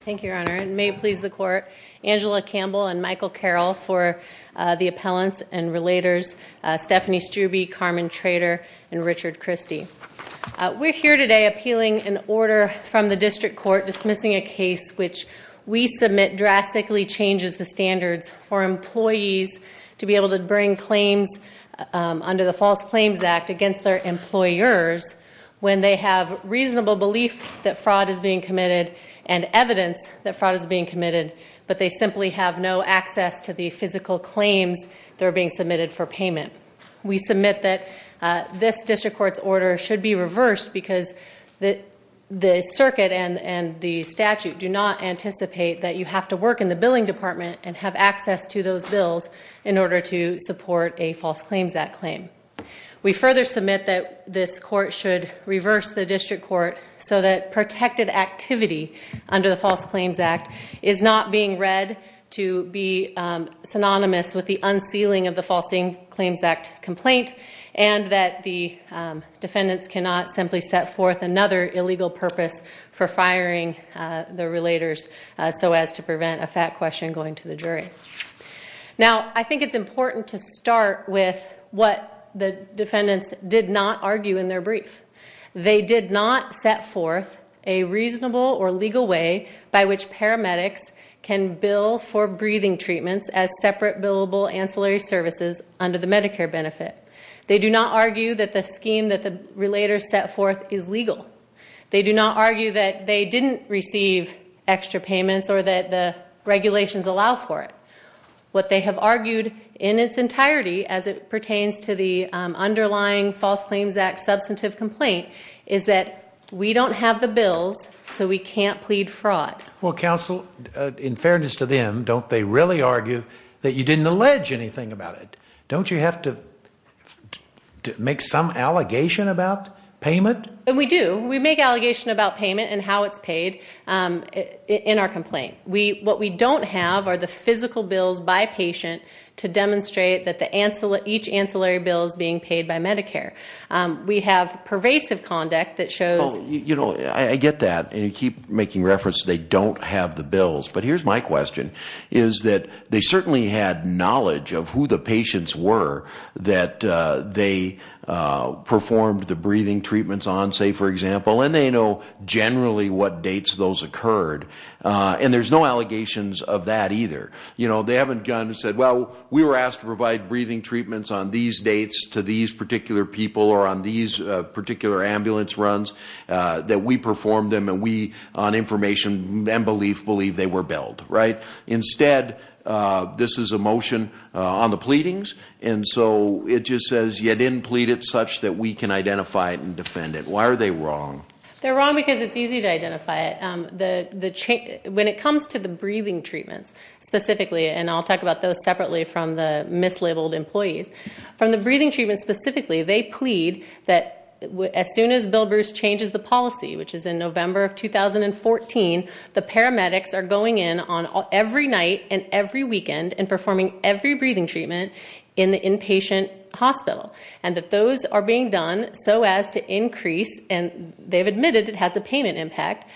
Thank you, Your Honor. And may it please the Court, Angela Campbell and Michael Carroll for the appellants and relators, Stephanie Strubbe, Carmen Trader, and Richard Christie. We're here today appealing an order from the District Court dismissing a case which we submit drastically changes the standards for employees to be able to bring claims under the False Claims Act against their employers when they have reasonable belief that fraud is being committed and evidence that fraud is being committed, but they simply have no access to the physical claims that are being submitted for payment. We submit that this District Court's order should be reversed because the circuit and the statute do not anticipate that you have to work in the billing department and have access to those bills in order to support a False Claims Act claim. We further submit that this Court should reverse the District Court so that protected activity under the False Claims Act is not being read to be synonymous with the unsealing of the False Claims Act complaint and that the defendants cannot simply set forth another illegal purpose for firing the relators so as to prevent a fact question going to the jury. Now, I think it's important to start with what the defendants did not argue in their brief. They did not set forth a reasonable or legal way by which paramedics can bill for breathing treatments as separate billable ancillary services under the Medicare benefit. They do not argue that the scheme that the relators set forth is legal. They do not argue that they didn't receive extra payments or that the regulations allow for it. What they have argued in its entirety as it pertains to the underlying False Claims Act substantive complaint is that we don't have the bills so we can't plead fraud. Well, Counsel, in fairness to them, don't they really argue that you didn't allege anything about it? Don't you have to make some allegation about payment? We do. We make allegation about payment and how it's paid in our complaint. What we don't have are the physical bills by patient to demonstrate that each ancillary bill is being paid by Medicare. We have pervasive conduct that shows... Oh, you know, I get that and you keep making reference they don't have the bills. But here's my question, is that they certainly had knowledge of who the patients were that they performed the breathing treatments on, say, for example, and they know generally what dates those occurred and there's no allegations of that either. You know, they haven't gone and said, well, we were asked to provide breathing treatments on these dates to these particular people or on these particular ambulance runs that we performed them and we, on information and belief, believe they were billed, right? Instead, this is a motion on the pleadings and so it just says you didn't plead it such that we can identify it and defend it. Why are they wrong? They're wrong because it's easy to identify it. When it comes to the breathing treatments specifically, and I'll talk about those separately from the mislabeled employees, from the breathing treatments specifically, they plead that as soon as Bill Bruce changes the policy, which is in November of 2014, the paramedics are going in every night and every weekend and performing every breathing treatment in the inpatient hospital and that those are being done so as to increase, and they've admitted it has a payment impact,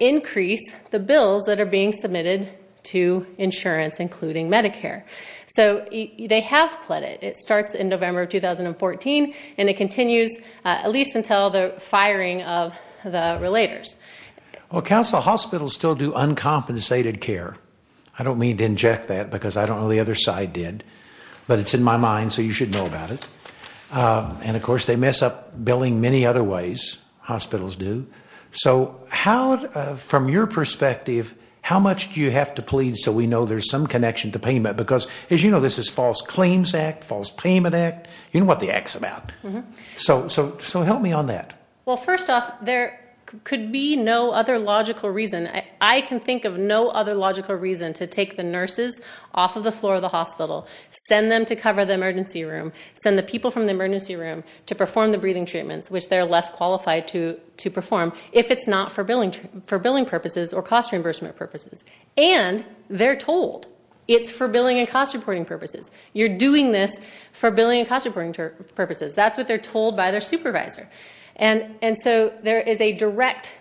increase the bills that are being submitted to insurance, including Medicare. So they have pledged it. It starts in November of 2014 and it continues at least until the firing of the relators. Well, counsel, hospitals still do uncompensated care. I don't mean to inject that because I don't know the other side did, but it's in my mind so you should know about it. And, of course, they mess up billing many other ways, hospitals do. So how, from your perspective, how much do you have to plead so we know there's some connection to payment? Because, as you know, this is False Claims Act, False Payment Act, you know what the act's about. So help me on that. Well, first off, there could be no other logical reason. I can think of no other logical reason to take the nurses off of the floor of the hospital, send them to cover the emergency room, send the people from the emergency room to perform the breathing treatments, which they're less qualified to perform if it's not for billing purposes or cost reimbursement purposes. And they're told it's for billing and cost reporting purposes. You're doing this for billing and cost reporting purposes. That's what they're told by their supervisor. And so there is a direct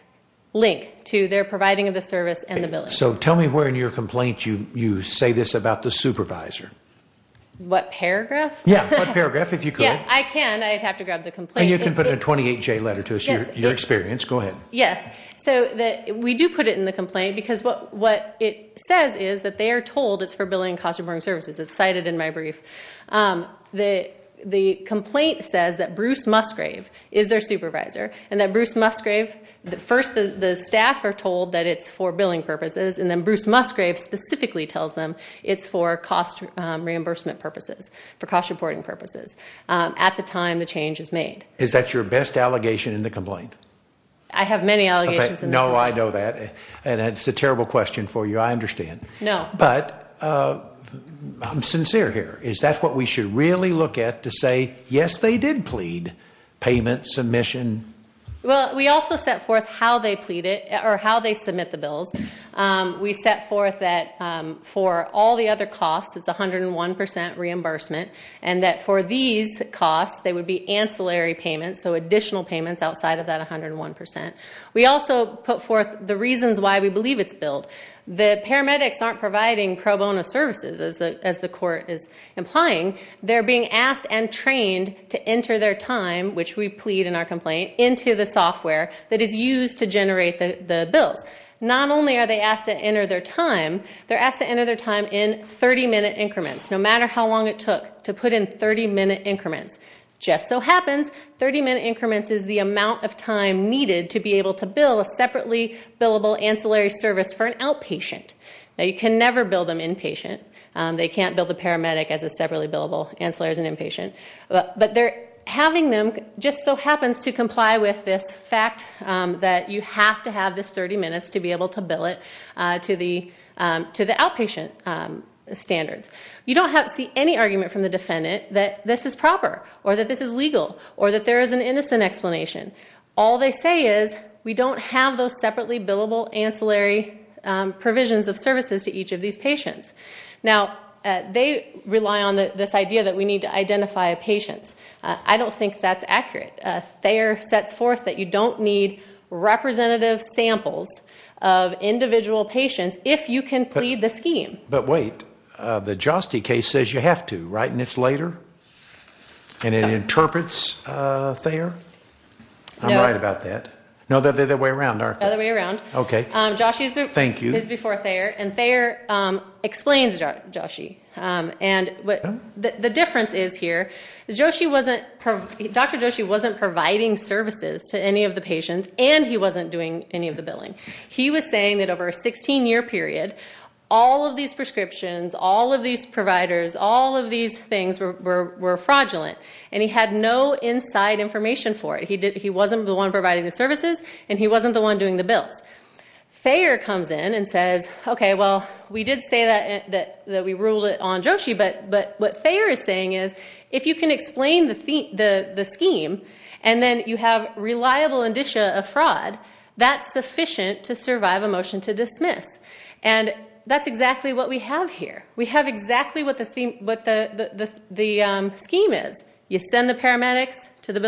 link to their providing of the service and the billing. So tell me where in your complaint you say this about the supervisor. What paragraph? Yeah, what paragraph if you could. Yeah, I can. I'd have to grab the complaint. And you can put a 28-J letter to us, your experience. Go ahead. Yeah. So we do put it in the complaint because what it says is that they are told it's for billing and cost reporting services. It's cited in my brief. The complaint says that Bruce Musgrave is their supervisor and that Bruce Musgrave, first the staff are told that it's for billing purposes, and then Bruce Musgrave specifically tells them it's for cost reimbursement purposes, for cost reporting purposes. At the time the change is made. Is that your best allegation in the complaint? I have many allegations in the complaint. No, I know that. And it's a terrible question for you. I understand. No. But I'm sincere here. Is that what we should really look at to say, yes, they did plead, payment, submission? Well, we also set forth how they plead it or how they submit the bills. We set forth that for all the other costs, it's 101% reimbursement, and that for these costs, they would be ancillary payments, so additional payments outside of that 101%. We also put forth the reasons why we believe it's billed. The paramedics aren't providing pro bono services, as the court is implying. They're being asked and trained to enter their time, which we plead in our complaint, into the software that is used to generate the bills. Not only are they asked to enter their time, they're asked to enter their time in 30-minute increments, no matter how long it took to put in 30-minute increments. It just so happens 30-minute increments is the amount of time needed to be able to bill a separately billable ancillary service for an outpatient. Now, you can never bill them inpatient. They can't bill the paramedic as a separately billable ancillary as an inpatient. But having them just so happens to comply with this fact that you have to have this 30 minutes to be able to bill it to the outpatient standards. You don't see any argument from the defendant that this is proper or that this is legal or that there is an innocent explanation. All they say is we don't have those separately billable ancillary provisions of services to each of these patients. Now, they rely on this idea that we need to identify a patient. I don't think that's accurate. Thayer sets forth that you don't need representative samples of individual patients if you can plead the scheme. But wait, the Joste case says you have to, right? And it's later? And it interprets Thayer? I'm right about that. No, the other way around, aren't they? The other way around. Okay. Thank you. Joshe is before Thayer, and Thayer explains Joshe. And the difference is here, Dr. Joshe wasn't providing services to any of the patients, and he wasn't doing any of the billing. He was saying that over a 16-year period, all of these prescriptions, all of these providers, all of these things were fraudulent. And he had no inside information for it. He wasn't the one providing the services, and he wasn't the one doing the bills. Thayer comes in and says, okay, well, we did say that we ruled it on Joshe. But what Thayer is saying is if you can explain the scheme and then you have reliable indicia of fraud, that's sufficient to survive a motion to dismiss. And that's exactly what we have here. We have exactly what the scheme is. You send the paramedics to the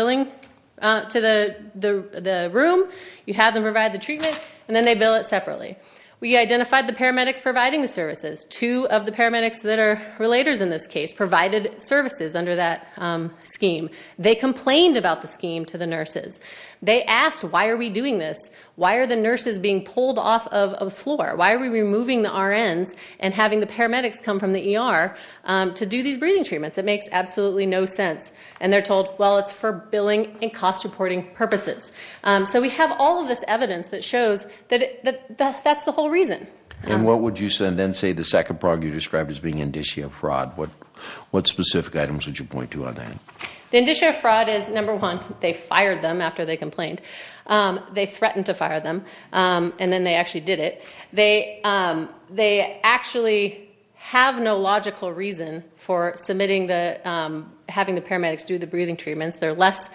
room, you have them provide the treatment, and then they bill it separately. We identified the paramedics providing the services. Two of the paramedics that are relators in this case provided services under that scheme. They complained about the scheme to the nurses. They asked, why are we doing this? Why are the nurses being pulled off of a floor? Why are we removing the RNs and having the paramedics come from the ER to do these breathing treatments? It makes absolutely no sense. And they're told, well, it's for billing and cost-reporting purposes. So we have all of this evidence that shows that that's the whole reason. And what would you then say the second part you described as being indicia of fraud? What specific items would you point to on that? The indicia of fraud is, number one, they fired them after they complained. They threatened to fire them. And then they actually did it. They actually have no logical reason for submitting the, having the paramedics do the breathing treatments. They're less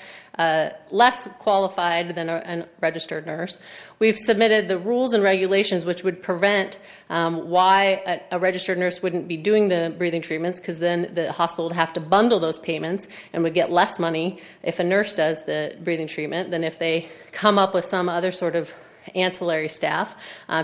qualified than a registered nurse. We've submitted the rules and regulations which would prevent why a registered nurse wouldn't be doing the breathing treatments, because then the hospital would have to bundle those payments and would get less money if a nurse does the breathing treatment than if they come up with some other sort of ancillary staff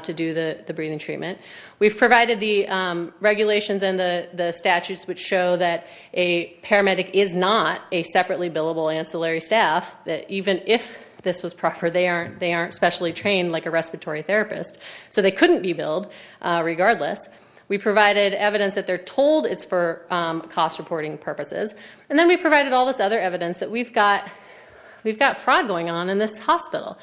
to do the breathing treatment. We've provided the regulations and the statutes which show that a paramedic is not a separately billable ancillary staff, that even if this was proper, they aren't specially trained like a respiratory therapist. So they couldn't be billed regardless. We provided evidence that they're told it's for cost-reporting purposes. And then we provided all this other evidence that we've got fraud going on in this hospital.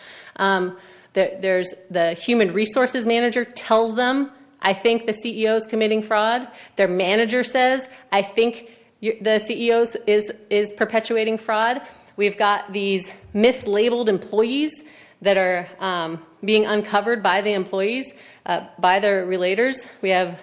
There's the human resources manager tells them, I think the CEO is committing fraud. Their manager says, I think the CEO is perpetuating fraud. We've got these mislabeled employees that are being uncovered by the employees, by their relators. We have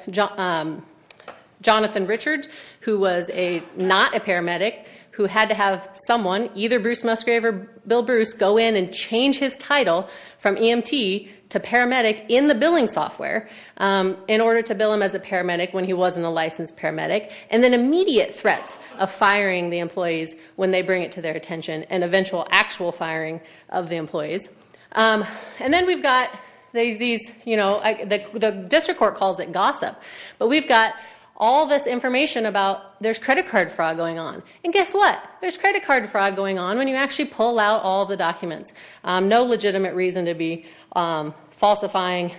Jonathan Richard, who was not a paramedic, who had to have someone, either Bruce Musgrave or Bill Bruce, go in and change his title from EMT to paramedic in the billing software in order to bill him as a paramedic when he wasn't a licensed paramedic. And then immediate threats of firing the employees when they bring it to their attention, and eventual actual firing of the employees. And then we've got these, you know, the district court calls it gossip. But we've got all this information about there's credit card fraud going on. And guess what? There's credit card fraud going on when you actually pull out all the documents. No legitimate reason to be falsifying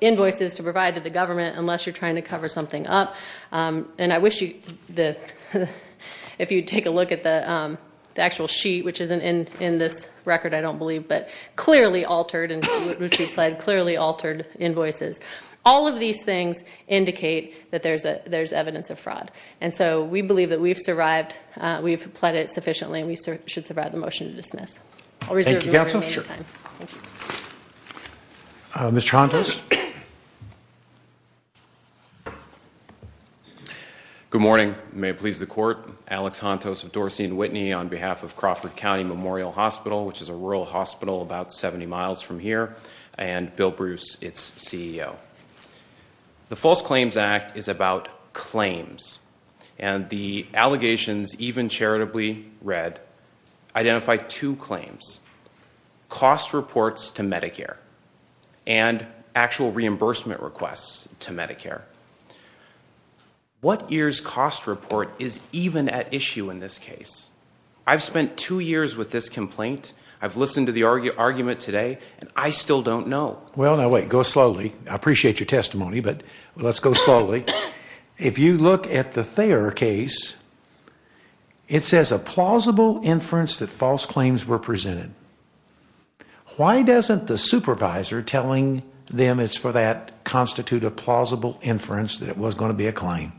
invoices to provide to the government unless you're trying to cover something up. And I wish you, if you take a look at the actual sheet, which is in this record, I don't believe, but clearly altered and clearly altered invoices. All of these things indicate that there's evidence of fraud. And so we believe that we've survived, we've pled it sufficiently, and we should survive the motion to dismiss. I'll reserve the remaining time. Mr. Hontos. Good morning. May it please the court. Alex Hontos of Dorsey & Whitney on behalf of Crawford County Memorial Hospital, which is a rural hospital about 70 miles from here, and Bill Bruce, its CEO. The False Claims Act is about claims. And the allegations, even charitably read, identify two claims, cost reports to Medicare and actual reimbursement requests to Medicare. What year's cost report is even at issue in this case? I've spent two years with this complaint, I've listened to the argument today, and I still don't know. Well, now wait, go slowly. I appreciate your testimony, but let's go slowly. If you look at the Thayer case, it says a plausible inference that false claims were presented. Why doesn't the supervisor telling them it's for that constitute a plausible inference that it was going to be a claim?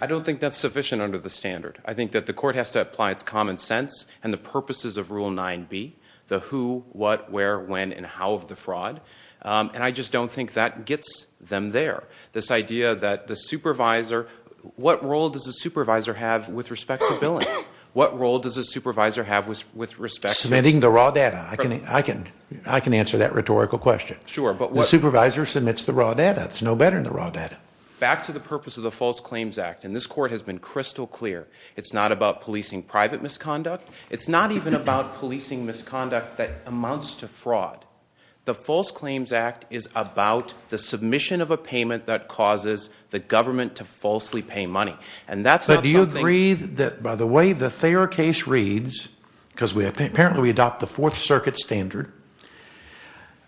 I don't think that's sufficient under the standard. I think that the court has to apply its common sense and the purposes of Rule 9B, the who, what, where, when, and how of the fraud. And I just don't think that gets them there. This idea that the supervisor, what role does the supervisor have with respect to billing? What role does the supervisor have with respect to- Submitting the raw data. I can answer that rhetorical question. Sure, but what- The supervisor submits the raw data. It's no better than the raw data. Back to the purpose of the False Claims Act, and this court has been crystal clear. It's not about policing private misconduct. It's not even about policing misconduct that amounts to fraud. The False Claims Act is about the submission of a payment that causes the government to falsely pay money. And that's not something- But do you agree that by the way the Thayer case reads, because apparently we adopt the Fourth Circuit standard,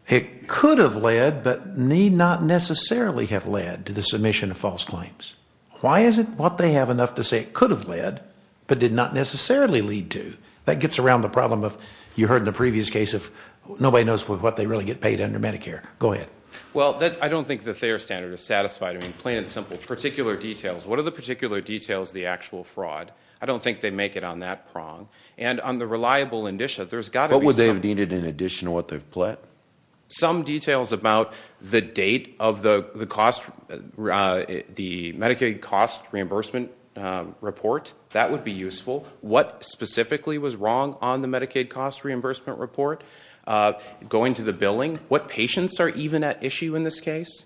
it could have led, but need not necessarily have led, to the submission of false claims. Why is it what they have enough to say it could have led, but did not necessarily lead to? That gets around the problem of, you heard in the previous case of, nobody knows what they really get paid under Medicare. Go ahead. Well, I don't think the Thayer standard is satisfied. I mean, plain and simple. Particular details. What are the particular details of the actual fraud? I don't think they make it on that prong. And on the reliable indicia, there's got to be some- What would they have needed in addition to what they've pled? Some details about the date of the Medicaid cost reimbursement report. That would be useful. What specifically was wrong on the Medicaid cost reimbursement report? Going to the billing, what patients are even at issue in this case?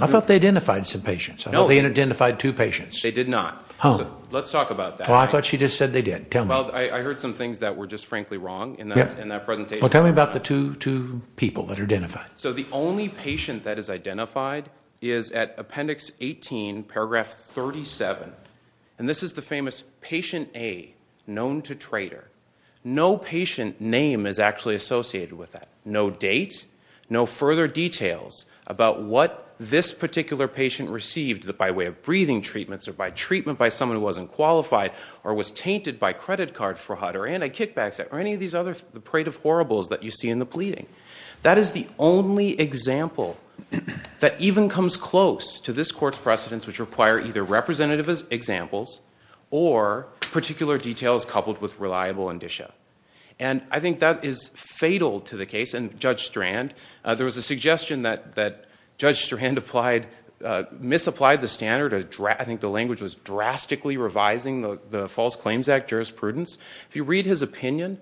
I thought they identified some patients. No. I thought they identified two patients. They did not. Oh. Let's talk about that. I thought she just said they did. Tell me. Well, I heard some things that were just frankly wrong in that presentation. Well, tell me about the two people that are identified. So the only patient that is identified is at Appendix 18, Paragraph 37. And this is the famous Patient A, known to traitor. No patient name is actually associated with that. No date. No further details about what this particular patient received by way of breathing treatments or by treatment by someone who wasn't qualified or was tainted by credit card fraud or anti-kickback or any of these other parade of horribles that you see in the pleading. That is the only example that even comes close to this court's precedence which require either representative examples or particular details coupled with reliable indicia. And I think that is fatal to the case. And Judge Strand, there was a suggestion that Judge Strand misapplied the standard. I think the language was drastically revising the False Claims Act jurisprudence. If you read his opinion,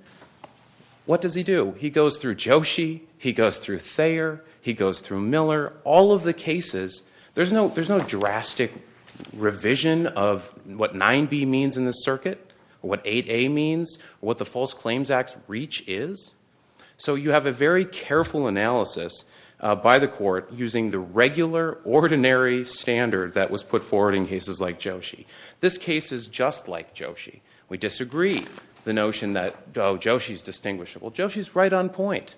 what does he do? He goes through Joshi. He goes through Thayer. He goes through Miller. All of the cases, there's no drastic revision of what 9B means in this circuit or what 8A means or what the False Claims Act's reach is. So you have a very careful analysis by the court using the regular, ordinary standard that was put forward in cases like Joshi. This case is just like Joshi. We disagree the notion that, oh, Joshi is distinguishable. Joshi is right on point.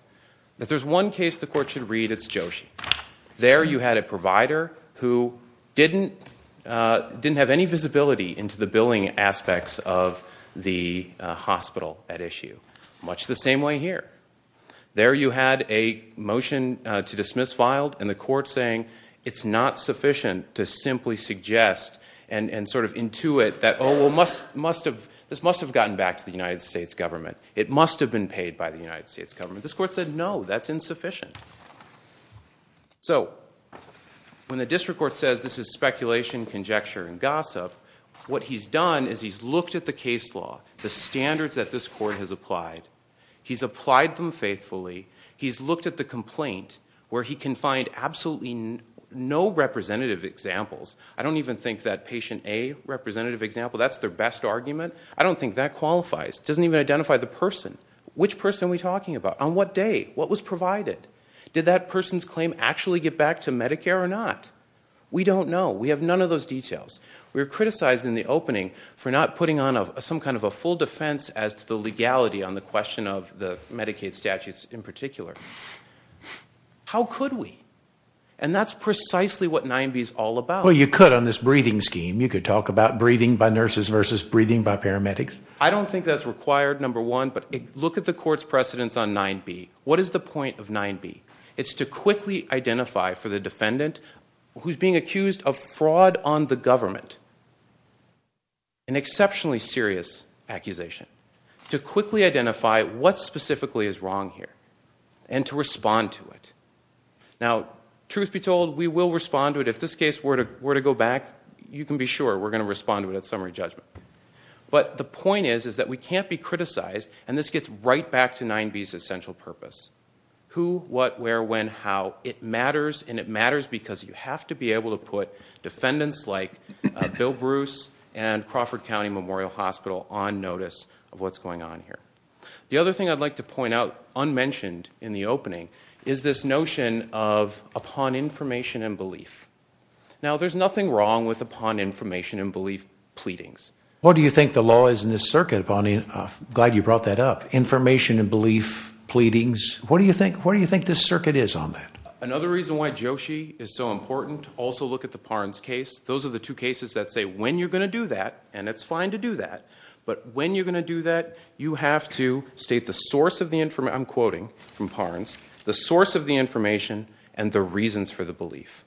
If there's one case the court should read, it's Joshi. There you had a provider who didn't have any visibility into the billing aspects of the hospital at issue, much the same way here. There you had a motion to dismiss filed and the court saying it's not sufficient to simply suggest and sort of intuit that, oh, well, this must have gotten back to the United States government. It must have been paid by the United States government. This court said, no, that's insufficient. So when the district court says this is speculation, conjecture, and gossip, what he's done is he's looked at the case law, the standards that this court has applied. He's applied them faithfully. He's looked at the complaint where he can find absolutely no representative examples. I don't even think that patient A representative example, that's their best argument. I don't think that qualifies. It doesn't even identify the person. Which person are we talking about? On what day? What was provided? Did that person's claim actually get back to Medicare or not? We don't know. We have none of those details. We were criticized in the opening for not putting on some kind of a full defense as to the legality on the question of the Medicaid statutes in particular. How could we? And that's precisely what 9B is all about. Well, you could on this breathing scheme. You could talk about breathing by nurses versus breathing by paramedics. I don't think that's required, number one. But look at the court's precedence on 9B. What is the point of 9B? It's to quickly identify for the defendant who's being accused of fraud on the government, an exceptionally serious accusation, to quickly identify what specifically is wrong here and to respond to it. Now, truth be told, we will respond to it. If this case were to go back, you can be sure we're going to respond to it at summary judgment. But the point is that we can't be criticized, and this gets right back to 9B's essential purpose. Who, what, where, when, how. It matters, and it matters because you have to be able to put defendants like Bill Bruce and Crawford County Memorial Hospital on notice of what's going on here. The other thing I'd like to point out, unmentioned in the opening, is this notion of upon information and belief. Now, there's nothing wrong with upon information and belief pleadings. What do you think the law is in this circuit upon information and belief pleadings? What do you think this circuit is on that? Another reason why Joshi is so important, also look at the Parnes case. Those are the two cases that say when you're going to do that, and it's fine to do that. But when you're going to do that, you have to state the source of the information. I'm quoting from Parnes. The source of the information and the reasons for the belief.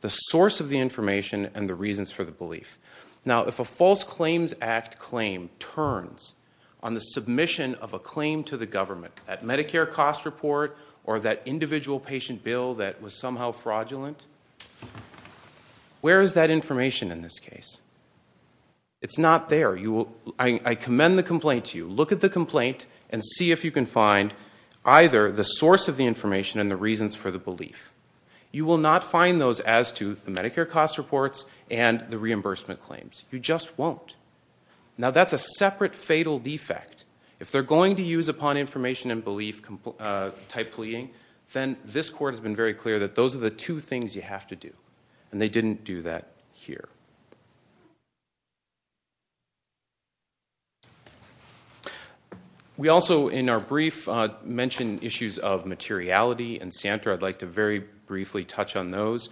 The source of the information and the reasons for the belief. Now, if a False Claims Act claim turns on the submission of a claim to the government, that Medicare cost report or that individual patient bill that was somehow fraudulent, where is that information in this case? It's not there. I commend the complaint to you. Look at the complaint and see if you can find either the source of the information and the reasons for the belief. You will not find those as to the Medicare cost reports and the reimbursement claims. You just won't. Now, that's a separate fatal defect. If they're going to use upon information and belief type pleading, then this court has been very clear that those are the two things you have to do, and they didn't do that here. We also, in our brief, mentioned issues of materiality, and Santa, I'd like to very briefly touch on those.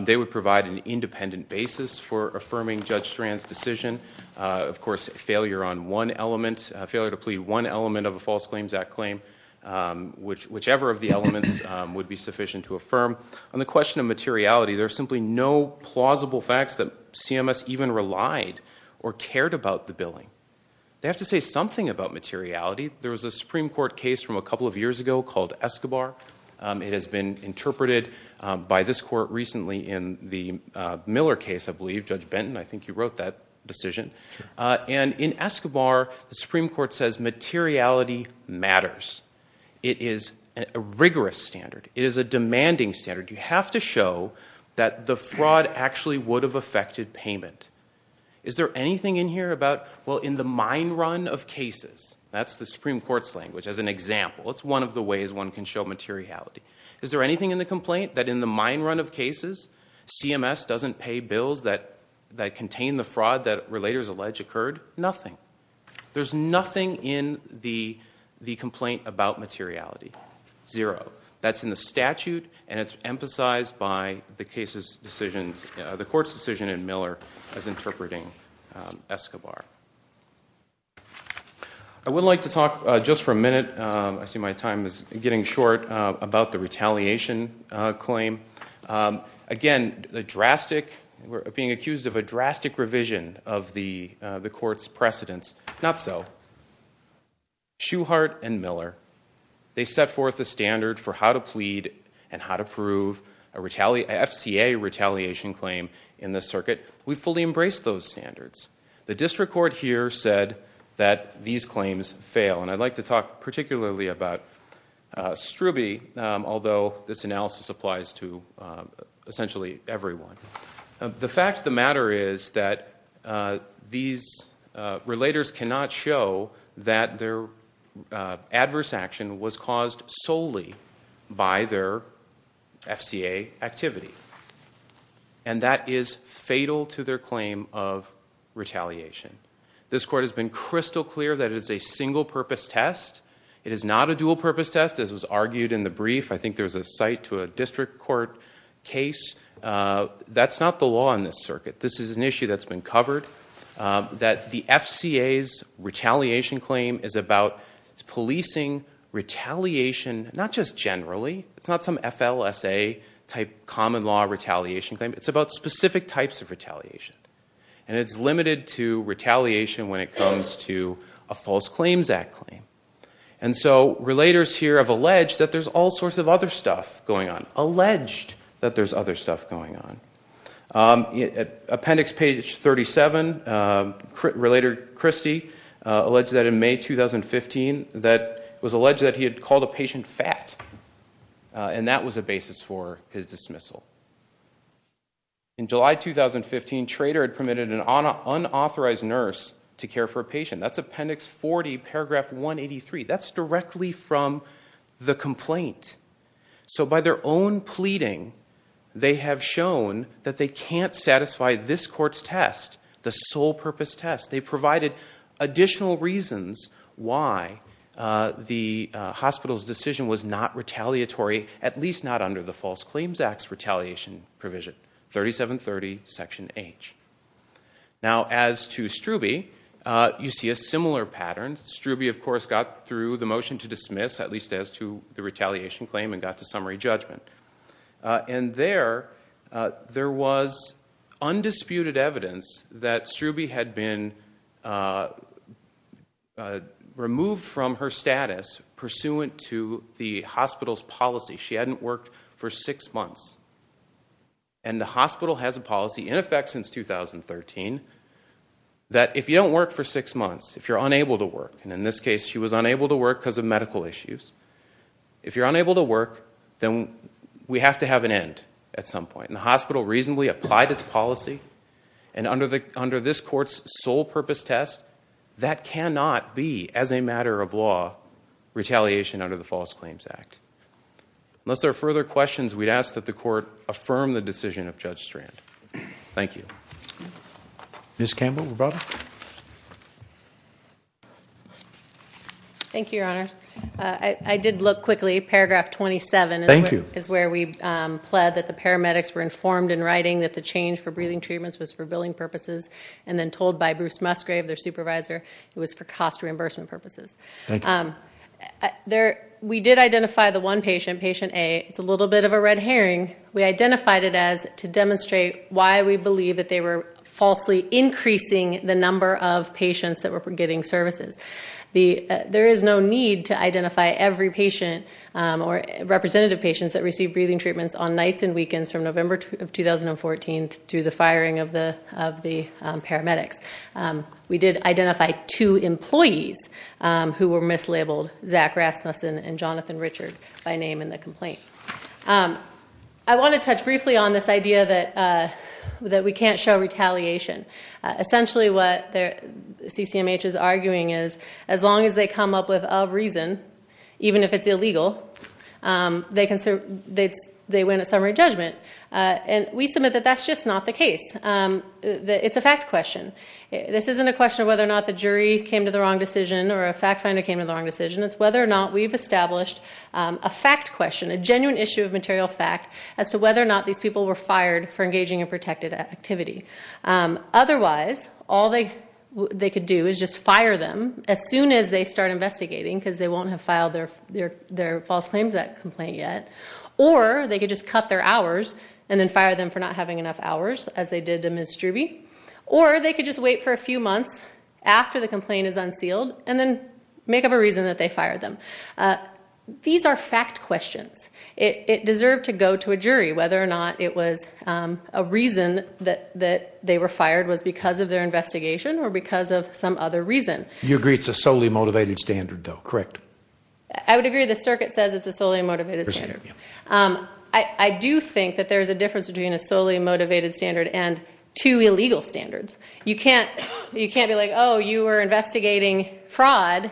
They would provide an independent basis for affirming Judge Strand's decision. Of course, failure on one element. Failure to plead one element of a False Claims Act claim. Whichever of the elements would be sufficient to affirm. On the question of materiality, there's simply no plausible facts that CMS even relied or cared about the billing. They have to say something about materiality. There was a Supreme Court case from a couple of years ago called Escobar. It has been interpreted by this court recently in the Miller case, I believe. Judge Benton, I think you wrote that decision. In Escobar, the Supreme Court says materiality matters. It is a rigorous standard. It is a demanding standard. You have to show that the fraud actually would have affected payment. Is there anything in here about, well, in the mine run of cases, that's the Supreme Court's language as an example. It's one of the ways one can show materiality. Is there anything in the complaint that in the mine run of cases, CMS doesn't pay bills that contain the fraud that relators allege occurred? Nothing. There's nothing in the complaint about materiality. Zero. That's in the statute, and it's emphasized by the court's decision in Miller as interpreting Escobar. I would like to talk just for a minute, I see my time is getting short, about the retaliation claim. Again, being accused of a drastic revision of the court's precedence. Not so. Shewhart and Miller, they set forth a standard for how to plead and how to prove a FCA retaliation claim in this circuit. We fully embraced those standards. The district court here said that these claims fail, and I'd like to talk particularly about Strube, although this analysis applies to essentially everyone. The fact of the matter is that these relators cannot show that their adverse action was caused solely by their FCA activity, and that is fatal to their claim of retaliation. This court has been crystal clear that it is a single-purpose test. It is not a dual-purpose test, as was argued in the brief. I think there was a cite to a district court case. That's not the law in this circuit. This is an issue that's been covered, that the FCA's retaliation claim is about policing retaliation not just generally. It's not some FLSA-type common law retaliation claim. It's about specific types of retaliation, and it's limited to retaliation when it comes to a False Claims Act claim. Relators here have alleged that there's all sorts of other stuff going on. Alleged that there's other stuff going on. Appendix page 37, Relator Christy alleged that in May 2015, it was alleged that he had called a patient fat, and that was a basis for his dismissal. In July 2015, Trader had permitted an unauthorized nurse to care for a patient. That's Appendix 40, Paragraph 183. That's directly from the complaint. So by their own pleading, they have shown that they can't satisfy this court's test, the sole-purpose test. They provided additional reasons why the hospital's decision was not retaliatory, at least not under the False Claims Act's retaliation provision. 3730, Section H. Now, as to Strube, you see a similar pattern. Strube, of course, got through the motion to dismiss, at least as to the retaliation claim, and got to summary judgment. And there, there was undisputed evidence that Strube had been removed from her status pursuant to the hospital's policy. She hadn't worked for six months. And the hospital has a policy in effect since 2013 that if you don't work for six months, if you're unable to work, and in this case she was unable to work because of medical issues, if you're unable to work, then we have to have an end at some point. And the hospital reasonably applied its policy, and under this court's sole-purpose test, that cannot be, as a matter of law, retaliation under the False Claims Act. Unless there are further questions, we'd ask that the court affirm the decision of Judge Strand. Thank you. Ms. Campbell, were you brought up? Thank you, Your Honor. I did look quickly. Paragraph 27 is where we pled that the paramedics were informed in writing that the change for breathing treatments was for billing purposes, and then told by Bruce Musgrave, their supervisor, it was for cost reimbursement purposes. Thank you. We did identify the one patient, patient A. It's a little bit of a red herring. We identified it as to demonstrate why we believe that they were falsely increasing the number of patients that were getting services. There is no need to identify every patient, or representative patients that received breathing treatments on nights and weekends from November 2014 to the firing of the paramedics. We did identify two employees who were mislabeled, Zach Rasmussen and Jonathan Richard, by name in the complaint. I want to touch briefly on this idea that we can't show retaliation. Essentially what CCMH is arguing is, as long as they come up with a reason, even if it's illegal, they win a summary judgment. We submit that that's just not the case. It's a fact question. This isn't a question of whether or not the jury came to the wrong decision, or a fact finder came to the wrong decision. It's whether or not we've established a fact question, a genuine issue of material fact, as to whether or not these people were fired for engaging in protected activity. Otherwise, all they could do is just fire them as soon as they start investigating, because they won't have filed their false claims at complaint yet. Or they could just cut their hours and then fire them for not having enough hours, as they did to Ms. Struby. Or they could just wait for a few months after the complaint is unsealed and then make up a reason that they fired them. These are fact questions. It deserved to go to a jury, whether or not it was a reason that they were fired was because of their investigation or because of some other reason. You agree it's a solely motivated standard, though, correct? I would agree the circuit says it's a solely motivated standard. I do think that there's a difference between a solely motivated standard and two illegal standards. You can't be like, oh, you were investigating fraud,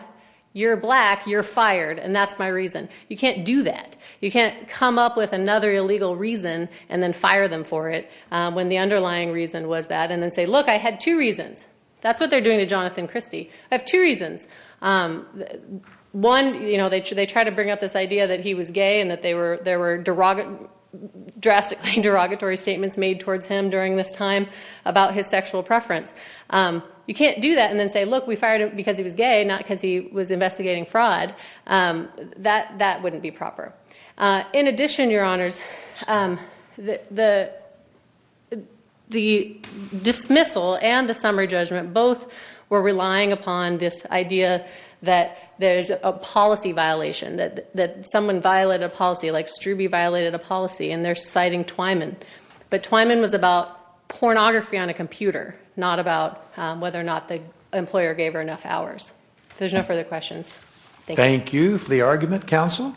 you're black, you're fired, and that's my reason. You can't do that. You can't come up with another illegal reason and then fire them for it when the underlying reason was that and then say, look, I had two reasons. That's what they're doing to Jonathan Christie. I have two reasons. One, they try to bring up this idea that he was gay and that there were drastically derogatory statements made towards him during this time about his sexual preference. You can't do that and then say, look, we fired him because he was gay, not because he was investigating fraud. That wouldn't be proper. In addition, Your Honors, the dismissal and the summary judgment both were relying upon this idea that there's a policy violation, that someone violated a policy, like Strube violated a policy, and they're citing Twyman. But Twyman was about pornography on a computer, not about whether or not the employer gave her enough hours. If there's no further questions, thank you. Thank you for the argument, counsel.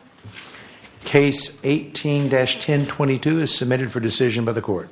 Case 18-1022 is submitted for decision by the court.